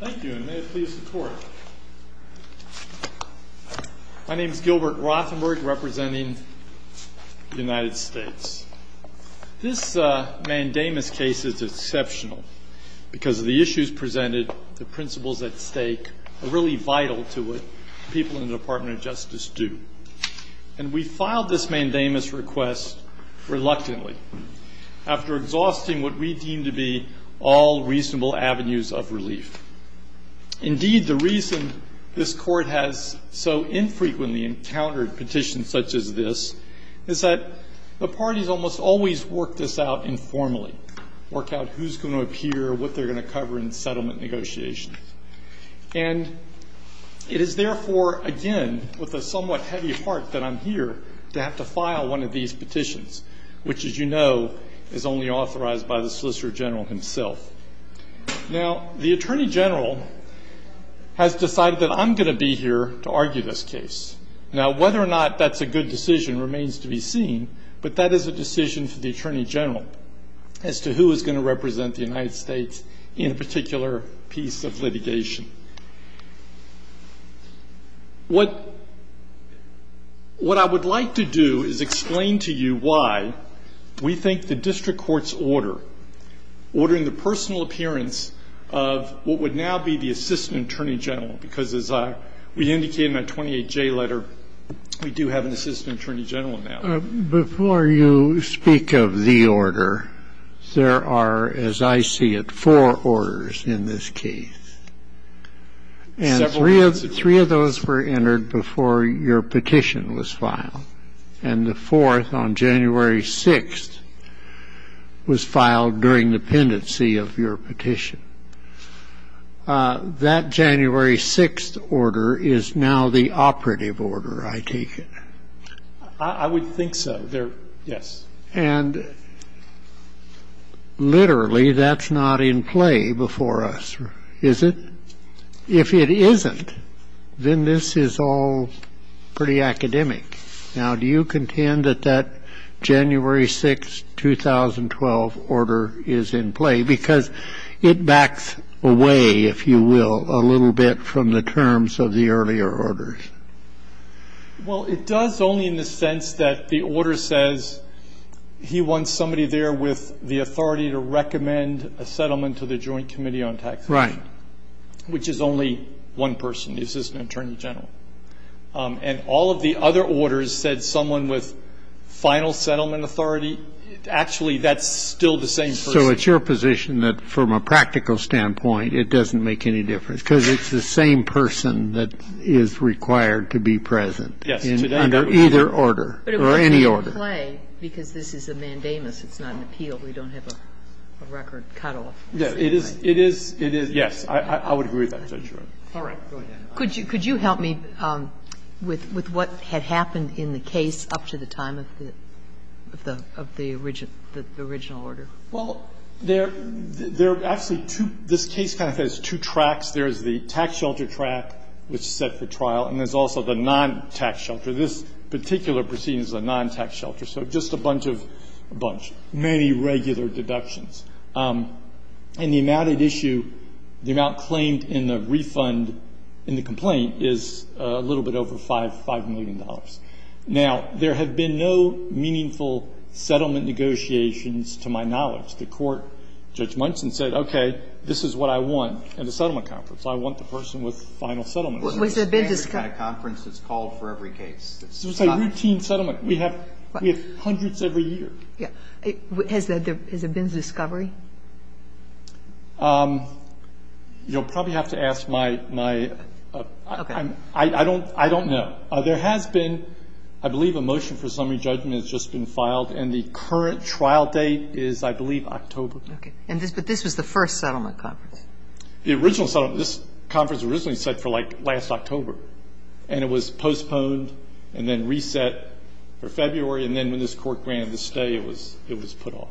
Thank you, and may it please the Court. My name is Gilbert Rothenberg, representing the United States. This mandamus case is exceptional because of the issues presented, the principles at stake are really vital to what people in the Department of Justice do. And we filed this mandamus request reluctantly after exhausting what we deem to be all reasonable avenues of relief. Indeed, the reason this Court has so infrequently encountered petitions such as this is that the parties almost always work this out informally, work out who's going to appear, what they're going to cover in settlement negotiations. And it is therefore, again, with a somewhat heavy heart that I'm here to have to file one of these petitions, which, as you know, is only authorized by the Solicitor General himself. Now, the Attorney General has decided that I'm going to be here to argue this case. Now, whether or not that's a good decision remains to be seen, but that is a decision for the Attorney General as to who is going to represent the United States in a particular piece of litigation. What I would like to do is explain to you why we think the district court's order, ordering the personal appearance of what would now be the Assistant Attorney General, because as we indicated in that 28J letter, we do have an Assistant Attorney General now. Before you speak of the order, there are, as I see it, four orders in this case. And three of those were entered before your petition was filed, and the fourth on January 6th was filed during the pendency of your petition. That January 6th order is now the operative order, I take it. I would think so. Yes. And literally, that's not in play before us, is it? If it isn't, then this is all pretty academic. Now, do you contend that that January 6th, 2012 order is in play? Because it backs away, if you will, a little bit from the terms of the earlier orders. Well, it does, only in the sense that the order says he wants somebody there with the authority to recommend a settlement to the Joint Committee on Taxation. Right. Which is only one person, the Assistant Attorney General. And all of the other orders said someone with final settlement authority. Actually, that's still the same person. So it's your position that, from a practical standpoint, it doesn't make any difference, because it's the same person that is required to be present. Yes. Under either order, or any order. But it would be in play, because this is a mandamus. It's not an appeal. We don't have a record cutoff. It is, it is, yes. I would agree with that, Judge Breyer. All right. Go ahead. Could you help me with what had happened in the case up to the time of the original order? Well, there are actually two – this case kind of has two tracks. There is the tax shelter track, which is set for trial, and there's also the non-tax shelter. This particular proceeding is a non-tax shelter. So just a bunch of – a bunch. Many regular deductions. And the amount at issue, the amount claimed in the refund in the complaint, is a little bit over $5 million. Now, there have been no meaningful settlement negotiations to my knowledge. The court, Judge Munson, said, okay, this is what I want in a settlement conference. I want the person with the final settlement. Was there been – It's a standard kind of conference that's called for every case. It's a routine settlement. We have hundreds every year. Yeah. Has there been discovery? You'll probably have to ask my – I don't know. There has been, I believe, a motion for summary judgment has just been filed, and the current trial date is, I believe, October. Okay. But this was the first settlement conference. The original – this conference was originally set for, like, last October, and it was postponed and then reset for February, and then when this court granted the stay, it was put off.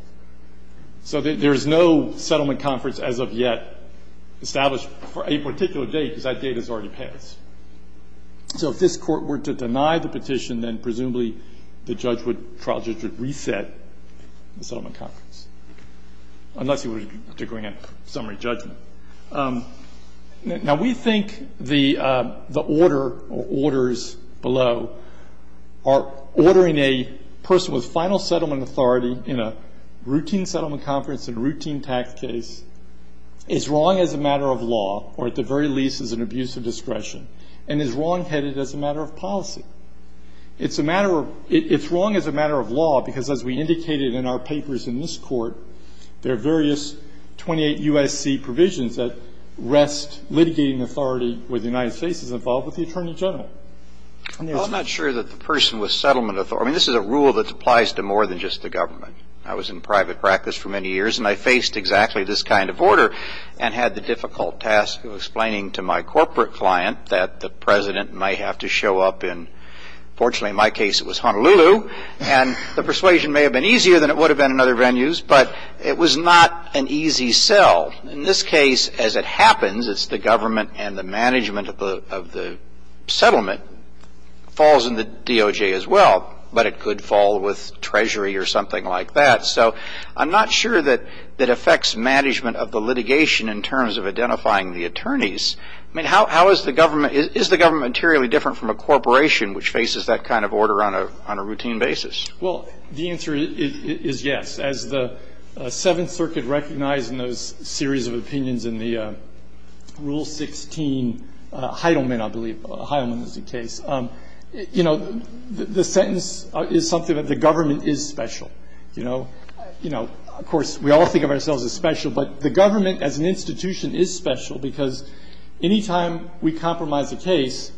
So there is no settlement conference as of yet established for a particular date, because that date has already passed. So if this court were to deny the petition, then presumably the trial judge would reset the settlement conference, unless he were to grant summary judgment. Now, we think the order or orders below are ordering a person with final settlement authority in a routine settlement conference and routine tax case as wrong as a matter of law or, at the very least, as an abuse of discretion, and as wrongheaded as a matter of policy. It's a matter of – it's wrong as a matter of law because, as we indicated in our papers in this court, there are various 28 U.S.C. provisions that rest litigating authority with the United States as involved with the Attorney General. I'm not sure that the person with settlement authority – I mean, this is a rule that applies to more than just the government. I was in private practice for many years, and I faced exactly this kind of order and had the difficult task of explaining to my corporate client that the President might have to show up in – fortunately, in my case, it was Honolulu. And the persuasion may have been easier than it would have been in other venues, but it was not an easy sell. In this case, as it happens, it's the government and the management of the settlement falls in the DOJ as well, but it could fall with Treasury or something like that. So I'm not sure that it affects management of the litigation in terms of identifying the attorneys. I mean, how is the government – is the government materially different from a corporation which faces that kind of order on a routine basis? Well, the answer is yes. As the Seventh Circuit recognized in those series of opinions in the Rule 16 – Heidelman, I believe. Heidelman was the case. You know, the sentence is something that the government is special, you know. You know, of course, we all think of ourselves as special, but the government as an institution is special because any time we compromise a case,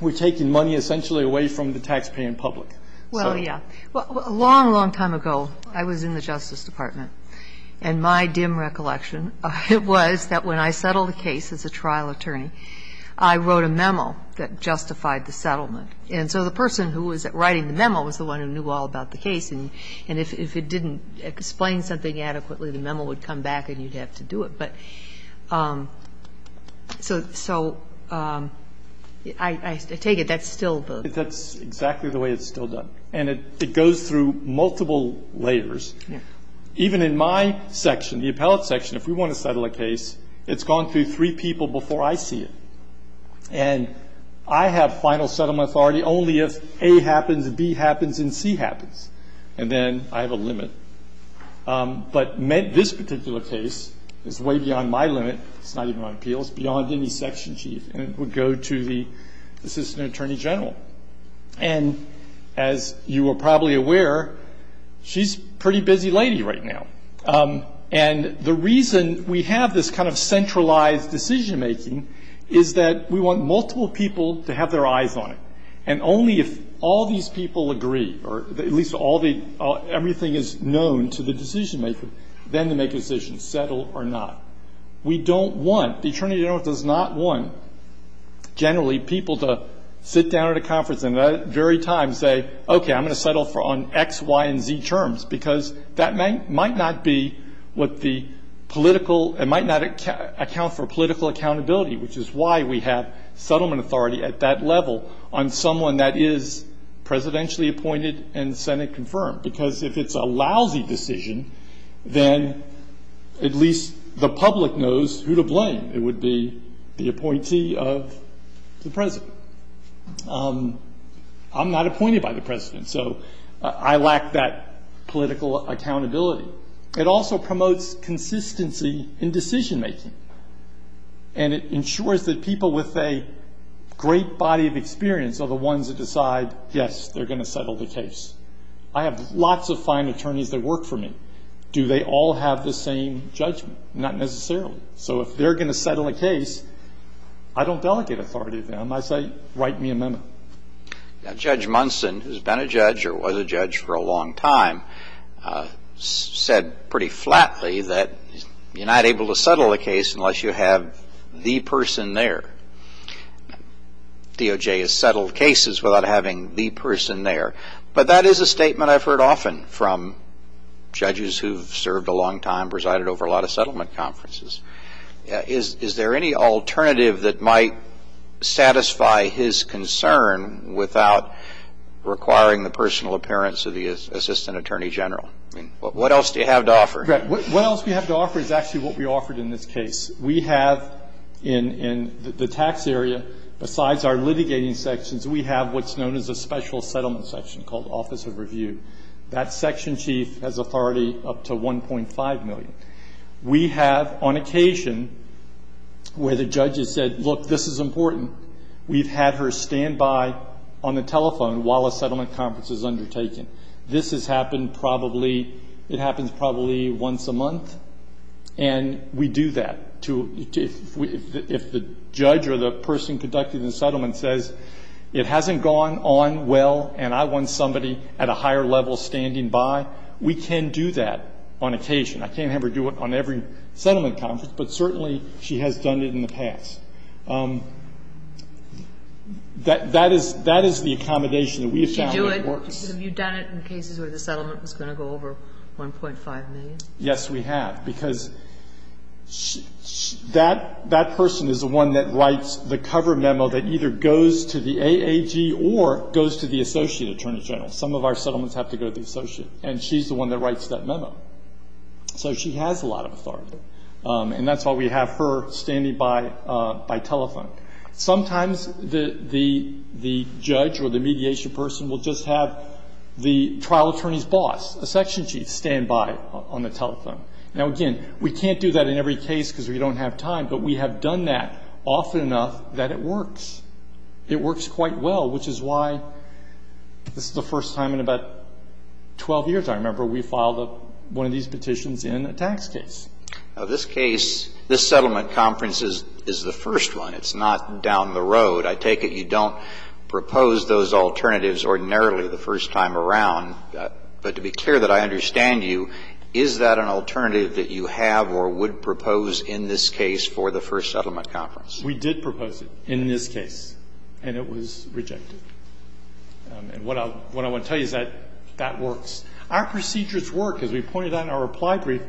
we're taking money essentially away from the taxpaying public. Well, yeah. A long, long time ago, I was in the Justice Department, and my dim recollection was that when I settled a case as a trial attorney, I wrote a memo that justified the settlement. And so the person who was writing the memo was the one who knew all about the case, and if it didn't explain something adequately, the memo would come back and you'd have to do it. But so I take it that's still the – That's exactly the way it's still done. And it goes through multiple layers. Even in my section, the appellate section, if we want to settle a case, it's gone through three people before I see it. And I have final settlement authority only if A happens, B happens, and C happens. And then I have a limit. But this particular case is way beyond my limit. It's not even on appeal. It's beyond any section chief, and it would go to the assistant attorney general. And as you are probably aware, she's a pretty busy lady right now. And the reason we have this kind of centralized decision-making is that we want multiple people to have their eyes on it, and only if all these people agree, or at least all the – everything is known to the decision-maker, then to make a decision, settle or not. We don't want – the attorney general does not want, generally, people to sit down at a conference and at that very time say, okay, I'm going to settle on X, Y, and Z terms, because that might not be what the political – it might not account for political accountability, which is why we have settlement authority at that level on someone that is presidentially appointed and Senate-confirmed. Because if it's a lousy decision, then at least the public knows who to blame. It would be the appointee of the president. I'm not appointed by the president, so I lack that political accountability. It also promotes consistency in decision-making, and it ensures that people with a great body of experience are the ones that decide, yes, they're going to settle the case. I have lots of fine attorneys that work for me. Do they all have the same judgment? Not necessarily. So if they're going to settle a case, I don't delegate authority to them. I say write me a memo. Now, Judge Munson, who's been a judge or was a judge for a long time, said pretty flatly that you're not able to settle a case unless you have the person there. DOJ has settled cases without having the person there, but that is a statement I've heard often from judges who've served a long time, presided over a lot of settlement conferences. Is there any alternative that might satisfy his concern without requiring the personal appearance of the assistant attorney general? I mean, what else do you have to offer? What else we have to offer is actually what we offered in this case. We have in the tax area, besides our litigating sections, we have what's known as a special settlement section called Office of Review. That section chief has authority up to $1.5 million. We have, on occasion, where the judge has said, look, this is important, we've had her stand by on the telephone while a settlement conference is undertaken. This has happened probably, it happens probably once a month, and we do that. If the judge or the person conducting the settlement says it hasn't gone on well and I want somebody at a higher level standing by, we can do that on occasion. I can't have her do it on every settlement conference, but certainly she has done it in the past. That is the accommodation that we have found that works. Did you do it? Have you done it in cases where the settlement was going to go over $1.5 million? Yes, we have, because that person is the one that writes the cover memo that either goes to the AAG or goes to the associate attorney general. Some of our settlements have to go to the associate, and she's the one that writes that memo. So she has a lot of authority. And that's why we have her standing by by telephone. Sometimes the judge or the mediation person will just have the trial attorney's boss, the section chief, stand by on the telephone. Now, again, we can't do that in every case because we don't have time, but we have done that often enough that it works. It works quite well, which is why this is the first time in about 12 years, I remember, we filed one of these petitions in a tax case. Now, this case, this settlement conference is the first one. It's not down the road. I take it you don't propose those alternatives ordinarily the first time around. But to be clear that I understand you, is that an alternative that you have or would propose in this case for the first settlement conference? We did propose it in this case, and it was rejected. And what I want to tell you is that that works. Our procedures work, as we pointed out in our reply brief. The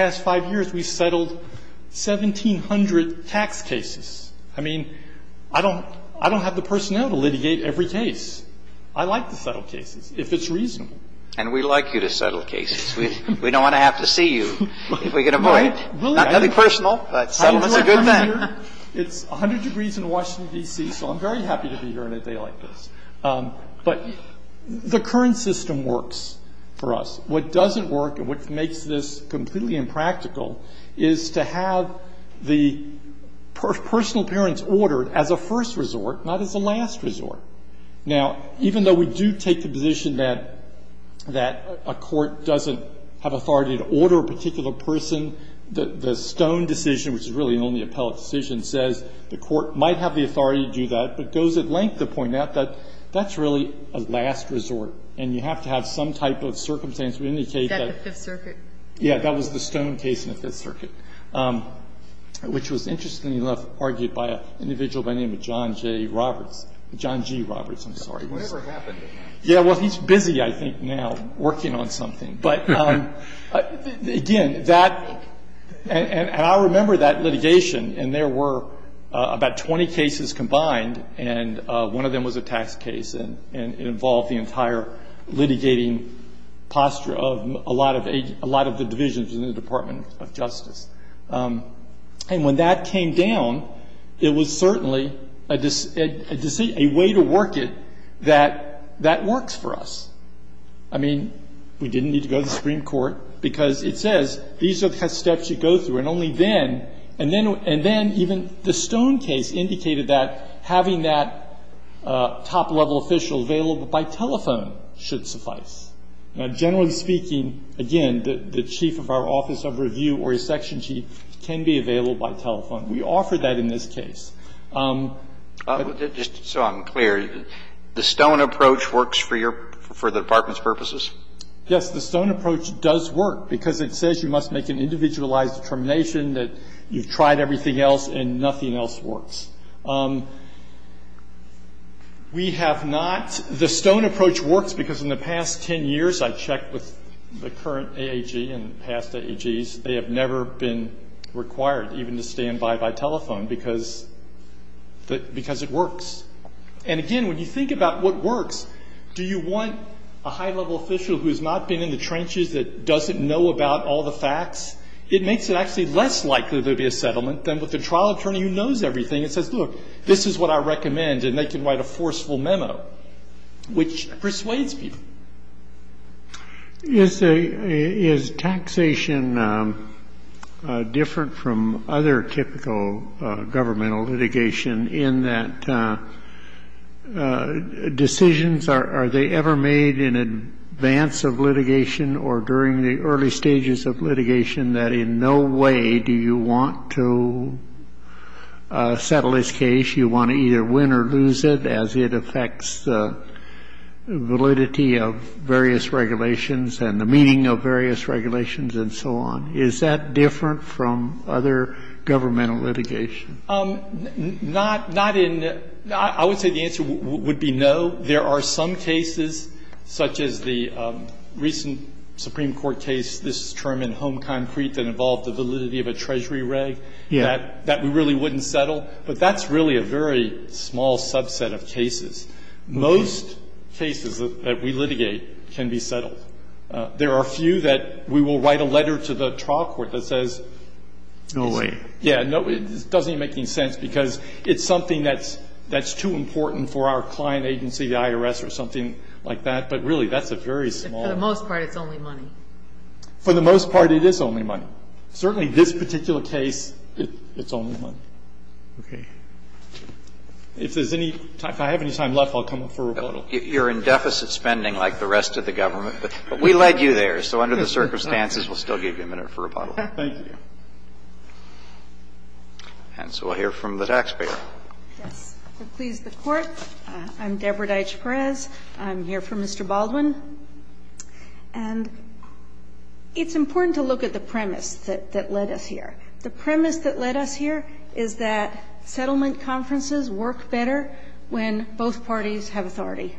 past five years, we've settled 1,700 tax cases. I mean, I don't have the personnel to litigate every case. I like to settle cases, if it's reasonable. And we like you to settle cases. We don't want to have to see you if we can avoid it. Not to be personal, but settlements are good for that. It's 100 degrees in Washington, D.C., so I'm very happy to be here on a day like this. But the current system works for us. What doesn't work and what makes this completely impractical is to have the personal parents order as a first resort, not as a last resort. Now, even though we do take the position that a court doesn't have authority to order a particular person, the Stone decision, which is really an only appellate decision, says the court might have the authority to do that, but goes at length to point out that that's really a last resort, and you have to have some type of circumstance to indicate that. Is that the Fifth Circuit? Yeah. That was the Stone case in the Fifth Circuit, which was interestingly enough argued by an individual by the name of John J. Roberts. John G. Roberts, I'm sorry. Whatever happened. Yeah. Well, he's busy, I think, now, working on something. But, again, that — and I remember that litigation, and there were about 20 cases combined, and one of them was a tax case, and it involved the entire litigating posture of a lot of the divisions in the Department of Justice. And when that came down, it was certainly a way to work it that works for us. I mean, we didn't need to go to the Supreme Court because it says these are the steps you go through. And only then, and then even the Stone case indicated that having that top-level official available by telephone should suffice. Now, generally speaking, again, the chief of our office of review or a section chief can be available by telephone. We offered that in this case. Just so I'm clear, the Stone approach works for your — for the Department's purposes? Yes. The Stone approach does work because it says you must make an individualized determination that you've tried everything else and nothing else works. We have not — the Stone approach works because in the past 10 years, I checked with the current AAG and past AAGs, they have never been required even to stand by by telephone because — because it works. And again, when you think about what works, do you want a high-level official who has not been in the trenches, that doesn't know about all the facts? It makes it actually less likely there would be a settlement than with a trial attorney who knows everything and says, look, this is what I recommend, and they can write a forceful memo, which persuades people. Is a — is taxation different from other typical governmental litigation in that decisions are — are they ever made in advance of litigation or during the early stages of litigation that in no way do you want to settle this case? You want to either win or lose it as it affects the validity of various regulations and the meaning of various regulations and so on. Is that different from other governmental litigation? Not — not in — I would say the answer would be no. There are some cases, such as the recent Supreme Court case, this term in Home Concrete that involved the validity of a treasury reg, that we really wouldn't settle, but that's really a very small subset of cases. Most cases that we litigate can be settled. There are a few that we will write a letter to the trial court that says — No way. Yeah. It doesn't make any sense because it's something that's — that's too important for our client agency, the IRS, or something like that. But really, that's a very small — For the most part, it's only money. For the most part, it is only money. Certainly this particular case, it's only money. Okay. If there's any — if I have any time left, I'll come up for rebuttal. You're in deficit spending like the rest of the government, but we led you there, so under the circumstances, we'll still give you a minute for rebuttal. Thank you. And so I'll hear from the taxpayer. Yes. Please, the Court. I'm Deborah Deitch Perez. I'm here for Mr. Baldwin. And it's important to look at the premise that led us here. The premise that led us here is that settlement conferences work better when both parties have authority.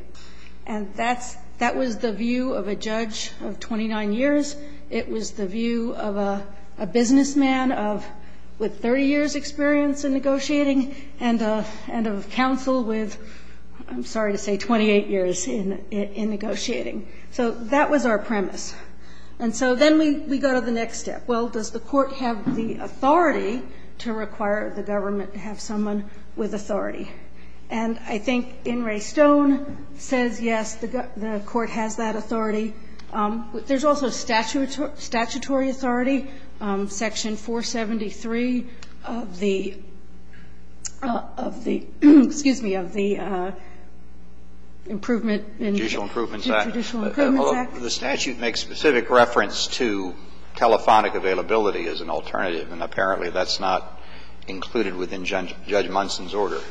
And that's — that was the view of a judge of 29 years. It was the view of a businessman with 30 years' experience in negotiating and of counsel with, I'm sorry to say, 28 years in negotiating. So that was our premise. And so then we go to the next step. Well, does the Court have the authority to require the government to have someone with authority? And I think In re Stone says, yes, the Court has that authority. There's also statutory authority, Section 473 of the — of the — excuse me, of the Improvement and Judicial Improvement Act. The statute makes specific reference to telephonic availability as an alternative, and apparently that's not included within Judge Munson's order.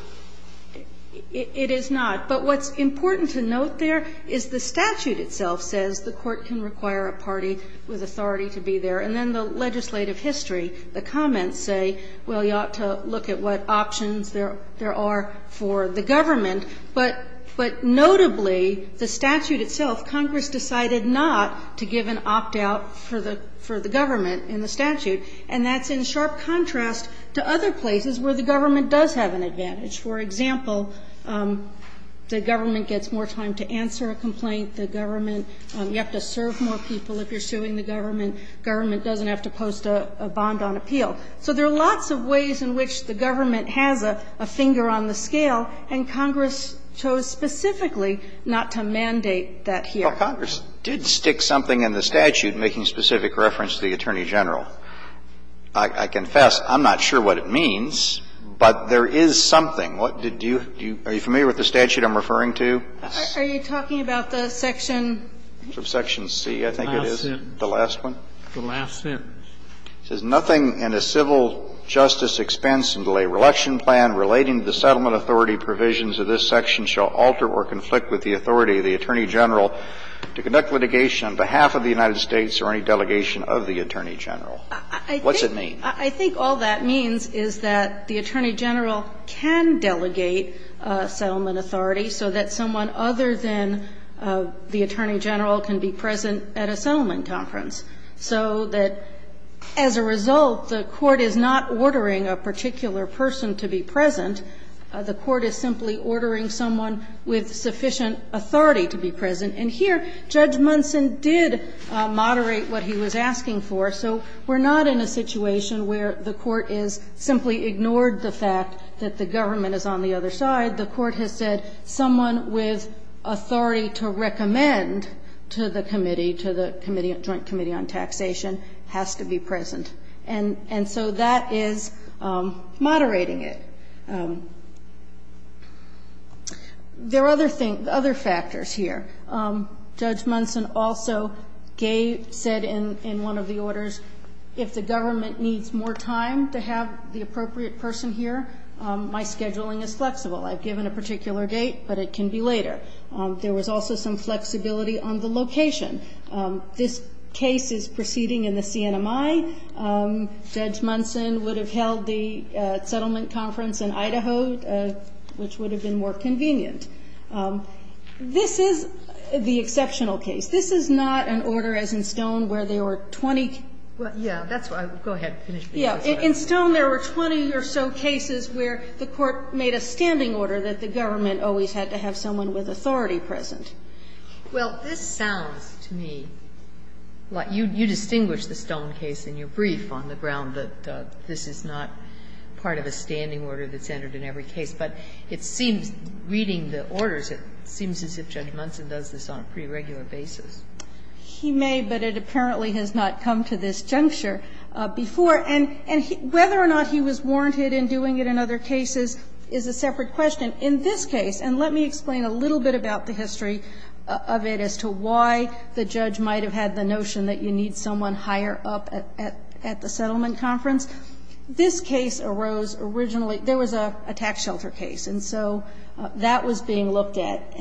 It is not. But what's important to note there is the statute itself says the Court can require a party with authority to be there. And then the legislative history, the comments say, well, you ought to look at what options there are for the government. But notably, the statute itself, Congress decided not to give an opt-out for the government in the statute, and that's in sharp contrast to other places where the government does have an advantage. For example, the government gets more time to answer a complaint. The government — you have to serve more people if you're suing the government. The government doesn't have to post a bond on appeal. So there are lots of ways in which the government has a finger on the scale, and Congress chose specifically not to mandate that here. Well, Congress did stick something in the statute making specific reference to the Attorney General. I confess I'm not sure what it means, but there is something. What did you — are you familiar with the statute I'm referring to? Are you talking about the section? Section C, I think it is. The last sentence. The last one. The last sentence. It says, Nothing in a civil justice expense and delay reluction plan relating to the settlement authority provisions of this section shall alter or conflict with the authority of the Attorney General to conduct litigation on behalf of the United States or any delegation of the Attorney General. What's it mean? I think all that means is that the Attorney General can delegate settlement authority so that someone other than the Attorney General can be present at a settlement conference, so that as a result, the Court is not ordering a particular person to be present. The Court is simply ordering someone with sufficient authority to be present. And here, Judge Munson did moderate what he was asking for. So we're not in a situation where the Court has simply ignored the fact that the government is on the other side. The Court has said someone with authority to recommend to the committee, to the Joint Committee on Taxation, has to be present. And so that is moderating it. There are other factors here. Judge Munson also said in one of the orders, if the government needs more time to have the appropriate person here, my scheduling is flexible. I've given a particular date, but it can be later. There was also some flexibility on the location. This case is proceeding in the CNMI. Judge Munson would have held the settlement conference in Idaho, which would have been more convenient. This is the exceptional case. This is not an order, as in Stone, where there were 20. Kagan. Well, yes. That's what I was going to say. In Stone, there were 20 or so cases where the Court made a standing order that the government always had to have someone with authority present. Well, this sounds to me like you distinguish the Stone case in your brief on the ground that this is not part of a standing order that's entered in every case. But it seems, reading the orders, it seems as if Judge Munson does this on a pretty regular basis. He may, but it apparently has not come to this juncture before. And whether or not he was warranted in doing it in other cases is a separate question. But in this case, and let me explain a little bit about the history of it as to why the judge might have had the notion that you need someone higher up at the settlement conference. This case arose originally. There was a tax shelter case, and so that was being looked at.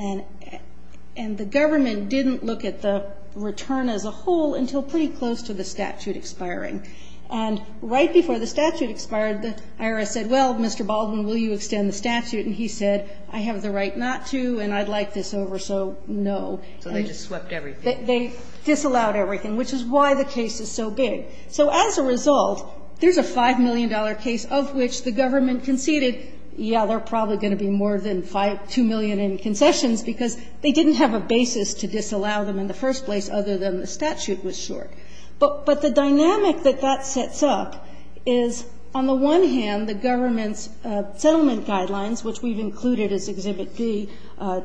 And the government didn't look at the return as a whole until pretty close to the statute expiring. And right before the statute expired, the IRS said, well, Mr. Baldwin, will you extend the statute? And he said, I have the right not to, and I'd like this over, so no. And they disallowed everything, which is why the case is so big. So as a result, there's a $5 million case of which the government conceded, yeah, there are probably going to be more than 2 million in concessions because they didn't have a basis to disallow them in the first place other than the statute was short. But the dynamic that that sets up is, on the one hand, the government's settlement guidelines, which we've included as Exhibit D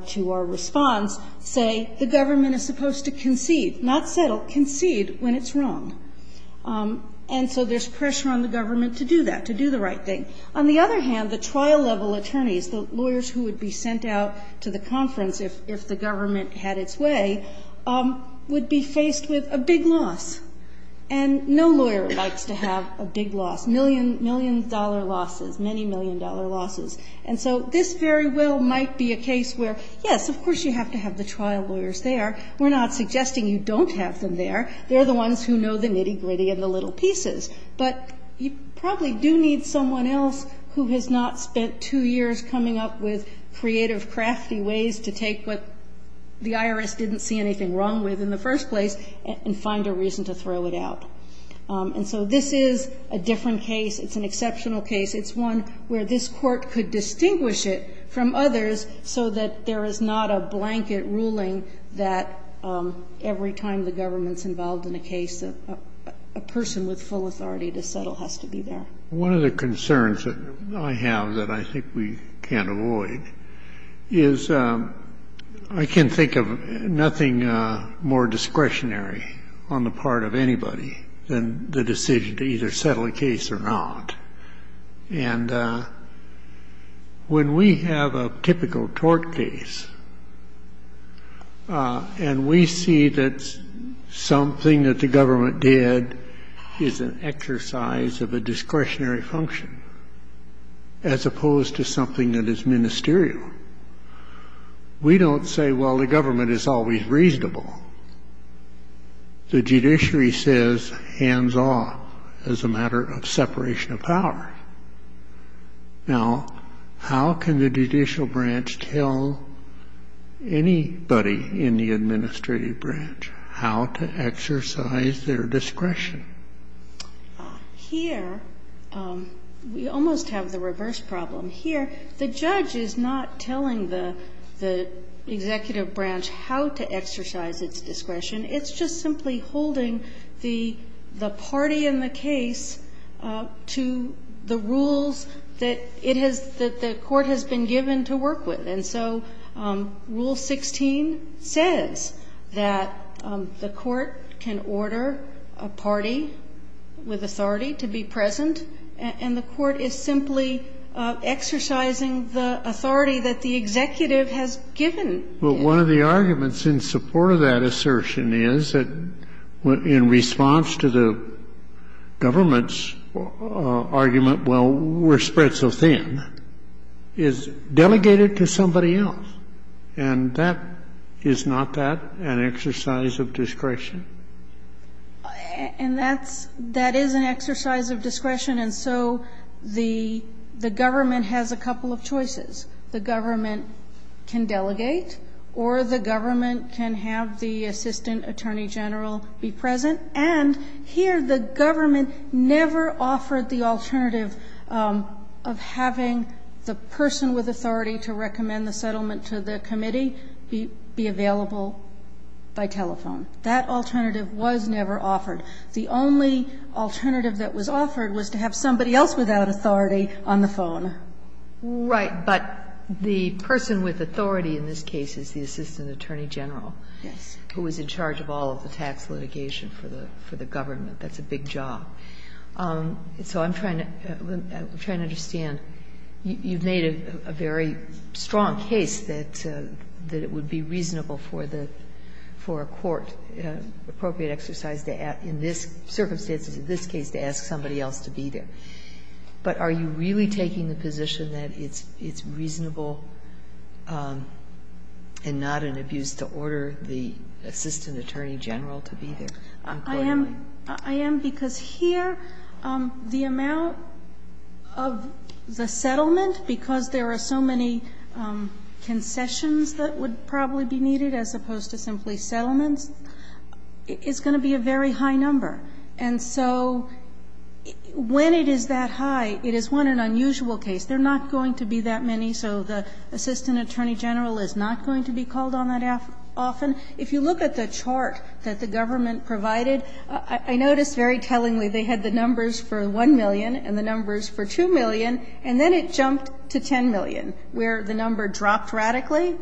to our response, say the government is supposed to concede, not settle, concede when it's wrong. And so there's pressure on the government to do that, to do the right thing. On the other hand, the trial-level attorneys, the lawyers who would be sent out to the IRS, and no lawyer likes to have a big loss, million, million-dollar losses, many million-dollar losses. And so this very well might be a case where, yes, of course you have to have the trial lawyers there. We're not suggesting you don't have them there. They're the ones who know the nitty-gritty and the little pieces. But you probably do need someone else who has not spent two years coming up with creative, crafty ways to take what the IRS didn't see anything wrong with in the first place and find a reason to throw it out. And so this is a different case. It's an exceptional case. It's one where this Court could distinguish it from others so that there is not a blanket ruling that every time the government's involved in a case, a person with full authority to settle has to be there. One of the concerns that I have that I think we can't avoid is I can think of nothing more discretionary on the part of anybody than the decision to either settle a case or not. And when we have a typical tort case and we see that something that the government did is an exercise of a discretionary function as opposed to something that is ministerial, we don't say, well, the government is always reasonable. The judiciary says hands off as a matter of separation of power. Now, how can the judicial branch tell anybody in the administrative branch how to exercise their discretion? Here, we almost have the reverse problem. Here, the judge is not telling the executive branch how to exercise its discretion. It's just simply holding the party in the case to the rules that it has the court has been given to work with. And so Rule 16 says that the court can order a party with authority to be present, and the court is simply exercising the authority that the executive has given. But one of the arguments in support of that assertion is that in response to the government's argument, well, we're spread so thin, is delegated to somebody else. And that is not that an exercise of discretion. And that's that is an exercise of discretion. And so the government has a couple of choices. The government can delegate or the government can have the assistant attorney general be present. And here, the government never offered the alternative of having the person with authority to recommend the settlement to the committee be available by telephone. That alternative was never offered. The only alternative that was offered was to have somebody else without authority on the phone. Right. But the person with authority in this case is the assistant attorney general. Yes. Sotomayor, I'm sorry. I'm trying to understand. You've made a very strong case that it would be reasonable for a court, appropriate exercise in this circumstance, in this case, to ask somebody else to be there. But are you really taking the position that it's reasonable and not an abuse to order the assistant attorney general to be there? I am because here the amount of the settlement, because there are so many concessions that would probably be needed as opposed to simply settlements, is going to be a very high number. And so when it is that high, it is, one, an unusual case. There are not going to be that many, so the assistant attorney general is not going to be called on that often. If you look at the chart that the government provided, I noticed very tellingly they had the numbers for 1 million and the numbers for 2 million, and then it jumped to 10 million, where the number dropped radically.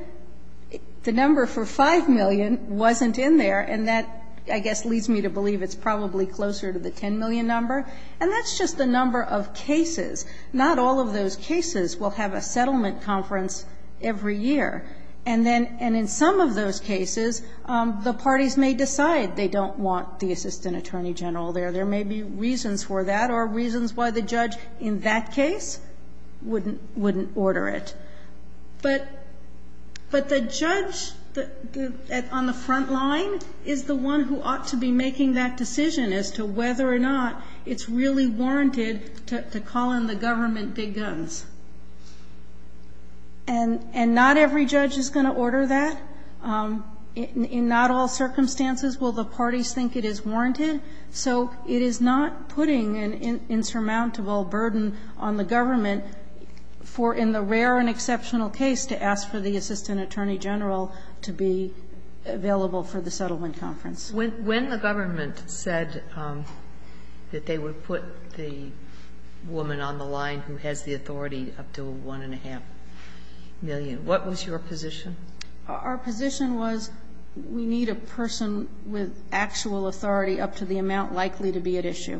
The number for 5 million wasn't in there, and that, I guess, leads me to believe it's probably closer to the 10 million number. And that's just the number of cases. Not all of those cases will have a settlement conference every year. And in some of those cases, the parties may decide they don't want the assistant attorney general there. There may be reasons for that or reasons why the judge in that case wouldn't order it. But the judge on the front line is the one who ought to be making that decision as to whether or not it's really warranted to call in the government big guns. And not every judge is going to order that. In not all circumstances will the parties think it is warranted. So it is not putting an insurmountable burden on the government for, in the rare and exceptional case, to ask for the assistant attorney general to be available for the settlement conference. When the government said that they would put the woman on the line who has the authority up to $1.5 million, what was your position? Our position was we need a person with actual authority up to the amount likely to be at issue.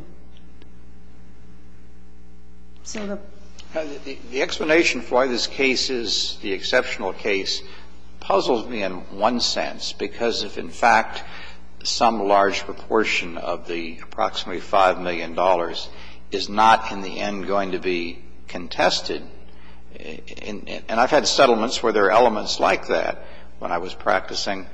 So the ---- The explanation for why this case is the exceptional case puzzles me in one sense, because if in fact some large proportion of the approximately $5 million is not in the end going to be contested, and I've had settlements where there are elements like that when I was practicing,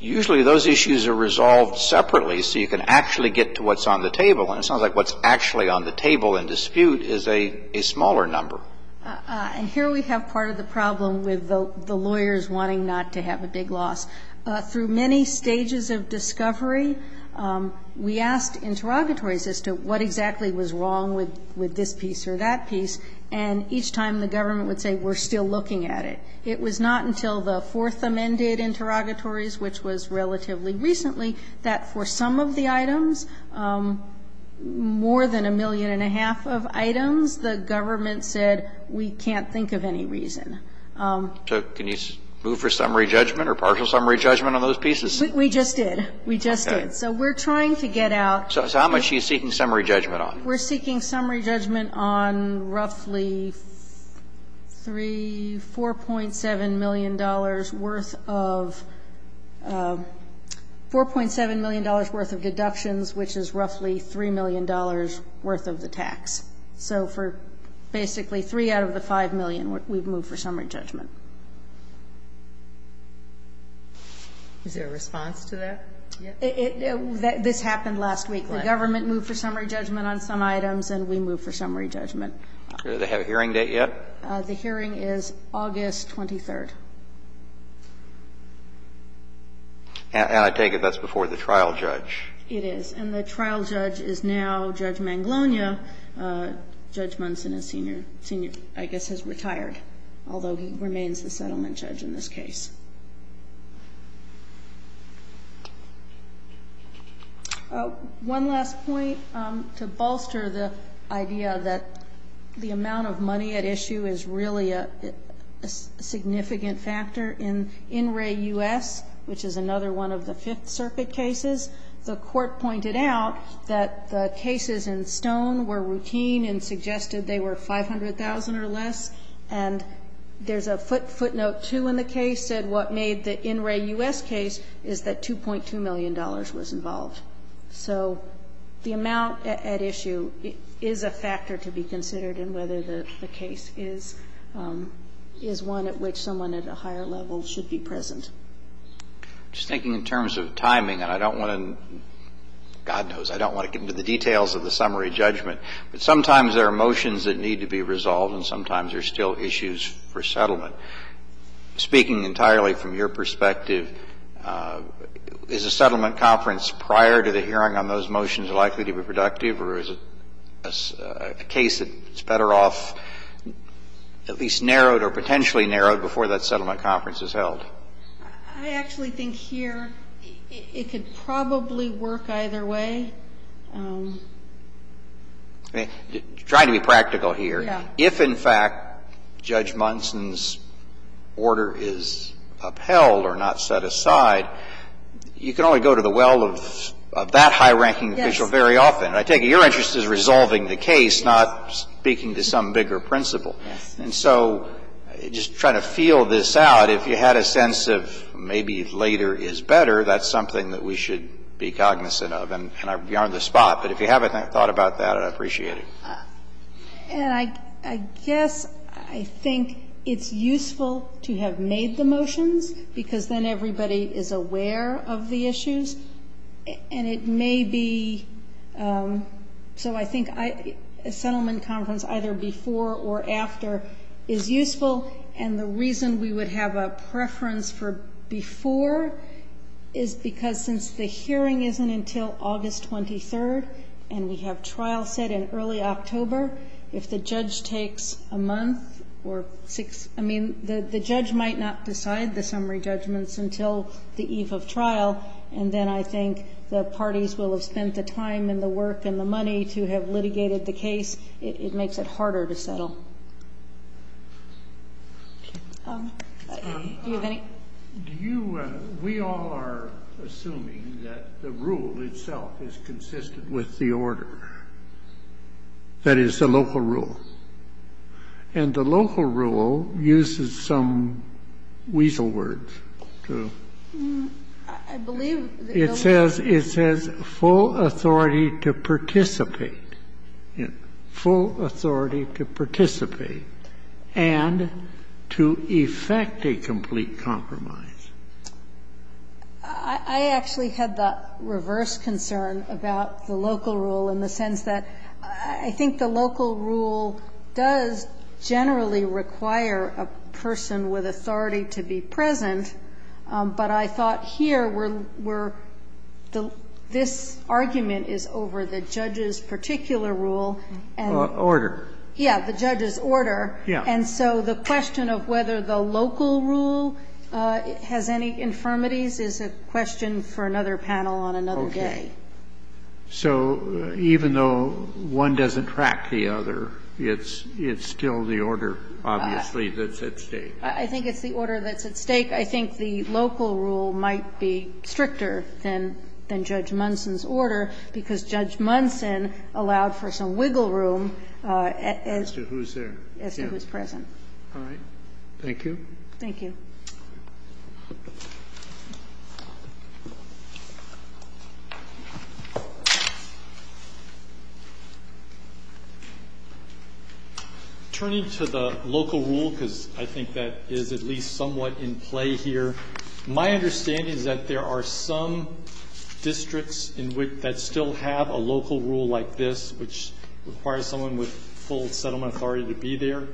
usually those issues are resolved separately so you can actually get to what's on the table. And it sounds like what's actually on the table in dispute is a smaller number. And here we have part of the problem with the lawyers wanting not to have a big loss. Through many stages of discovery, we asked interrogatories as to what exactly was wrong with this piece or that piece, and each time the government would say, we're still looking at it. It was not until the Fourth Amended interrogatories, which was relatively recently, that for some of the items, more than a million and a half of items, the government said, we can't think of any reason. So can you move for summary judgment or partial summary judgment on those pieces? We just did. We just did. Okay. So we're trying to get out ---- So how much are you seeking summary judgment on? We're seeking summary judgment on roughly 3, $4.7 million worth of ---- $4.7 million worth of deductions, which is roughly $3 million worth of the tax. So for basically 3 out of the 5 million, we've moved for summary judgment. Is there a response to that? This happened last week. The government moved for summary judgment on some items, and we moved for summary judgment. Do they have a hearing date yet? The hearing is August 23rd. And I take it that's before the trial judge. It is. And the trial judge is now Judge Manglonia, Judge Munson is senior, I guess is retired, although he remains the settlement judge in this case. One last point to bolster the idea that the amount of money at issue is really a significant factor. In In Re US, which is another one of the Fifth Circuit cases, the court pointed out that the cases in Stone were routine and suggested they were 500,000 or less. And there's a footnote, too, in the case that what made the In Re US case is that $2.2 million was involved. So the amount at issue is a factor to be considered in whether the case is one at which someone at a higher level should be present. Just thinking in terms of timing, and I don't want to, God knows, I don't want to get into the details of the summary judgment, but sometimes there are motions that need to be resolved, and sometimes there's still issues for settlement. Speaking entirely from your perspective, is a settlement conference prior to the hearing on those motions likely to be productive, or is it a case that's better off at least narrowed or potentially narrowed before that settlement conference is held? I actually think here it could probably work either way. Trying to be practical here. Yeah. If, in fact, Judge Munson's order is upheld or not set aside, you can only go to the well of that high-ranking official very often. Yes. And I take it your interest is resolving the case, not speaking to some bigger principle. And so just trying to feel this out. If you had a sense of maybe later is better, that's something that we should be cognizant of, and I'm beyond the spot. But if you haven't thought about that, I'd appreciate it. And I guess I think it's useful to have made the motions, because then everybody is aware of the issues. And it may be so I think a settlement conference either before or after is useful. And the reason we would have a preference for before is because since the hearing isn't until August 23rd, and we have trial set in early October, if the judge takes a month or six – I mean, the judge might not decide the summary judgments until the eve of trial, and then I think the parties will have spent the time and the work and the money to have litigated the case, it makes it harder to settle. Do you have any? Do you – we all are assuming that the rule itself is consistent with the order, that is, the local rule. And the local rule uses some weasel words to – I believe that – It says, it says, full authority to participate, full authority to participate, and to effect a complete compromise. I actually had the reverse concern about the local rule in the sense that I think the local rule does generally require a person with authority to be present, but I thought here we're – this argument is over the judge's particular rule and – Order. Yeah, the judge's order. Yeah. And so the question of whether the local rule has any infirmities is a question for another panel on another day. So even though one doesn't track the other, it's still the order, obviously, that's at stake. I think it's the order that's at stake. I think the local rule might be stricter than Judge Munson's order, because Judge Munson allowed for some wiggle room as to who's there. As to who's present. All right. Thank you. Thank you. Thank you. Turning to the local rule, because I think that is at least somewhat in play here, my understanding is that there are some districts in which that still have a local rule like this, which requires someone with full settlement authority to be there.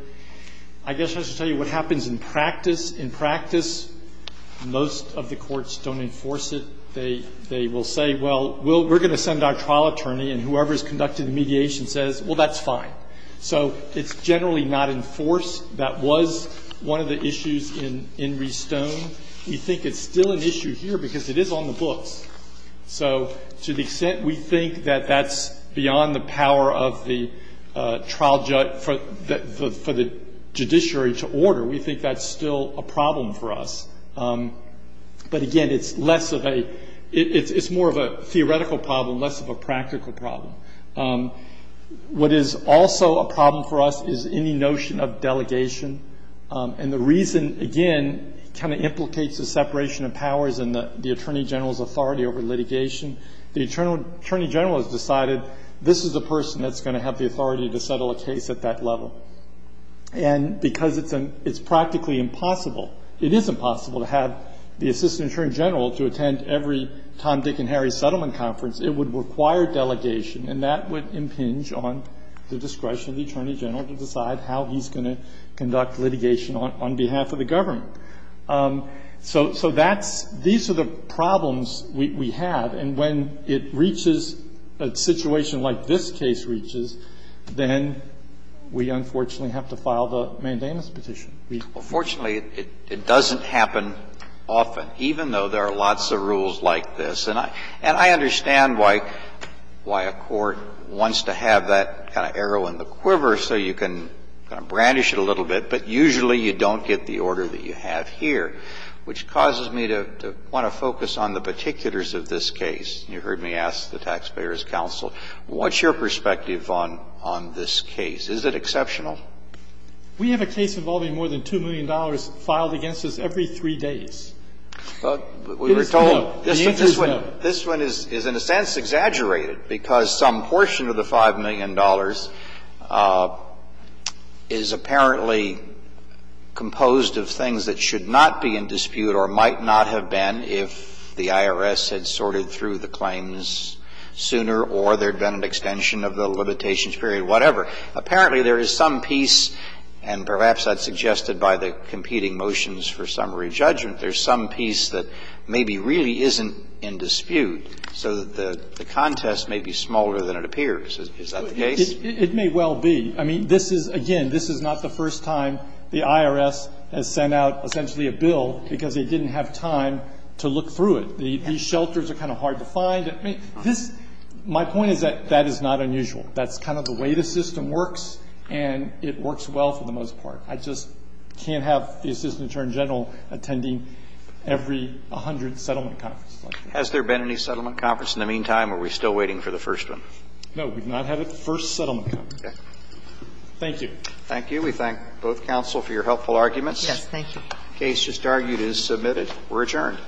I guess I should tell you what happens in practice. In practice, most of the courts don't enforce it. They will say, well, we're going to send our trial attorney, and whoever has conducted the mediation says, well, that's fine. So it's generally not enforced. That was one of the issues in Restone. We think it's still an issue here because it is on the books. So to the extent we think that that's beyond the power of the trial judge for the judiciary to order, we think that's still a problem for us. But, again, it's less of a ‑‑ it's more of a theoretical problem, less of a practical problem. What is also a problem for us is any notion of delegation. And the reason, again, kind of implicates the separation of powers and the attorney general's authority over litigation. The attorney general has decided this is the person that's going to have the authority to settle a case at that level. And because it's practically impossible, it is impossible to have the assistant attorney general to attend every Tom, Dick, and Harry settlement conference. It would require delegation, and that would impinge on the discretion of the attorney general to decide how he's going to conduct litigation on behalf of the government. So that's ‑‑ these are the problems we have. And when it reaches a situation like this case reaches, then we, unfortunately, have to file the mandamus petition. Fortunately, it doesn't happen often, even though there are lots of rules like this. And I understand why a court wants to have that kind of arrow in the quiver so you can brandish it a little bit. But usually you don't get the order that you have here, which causes me to want to What's your perspective on this case? You heard me ask the taxpayers' counsel. What's your perspective on this case? Is it exceptional? We have a case involving more than $2 million filed against us every three days. We were told this one is in a sense exaggerated because some portion of the $5 million is apparently composed of things that should not be in dispute or might not have been if the IRS had sorted through the claims sooner or there had been an extension of the limitations period, whatever. Apparently there is some piece, and perhaps that's suggested by the competing motions for summary judgment, there's some piece that maybe really isn't in dispute so that the contest may be smaller than it appears. Is that the case? It may well be. I mean, this is, again, this is not the first time the IRS has sent out essentially a bill because they didn't have time to look through it. These shelters are kind of hard to find. I mean, this my point is that that is not unusual. That's kind of the way the system works, and it works well for the most part. I just can't have the Assistant Attorney General attending every 100 settlement conferences like this. Has there been any settlement conference in the meantime, or are we still waiting for the first one? No, we've not had a first settlement conference. Okay. Thank you. Thank you. We thank both counsel for your helpful arguments. Yes. Thank you. The case just argued is submitted. We're adjourned. All rise. The court is adjourned.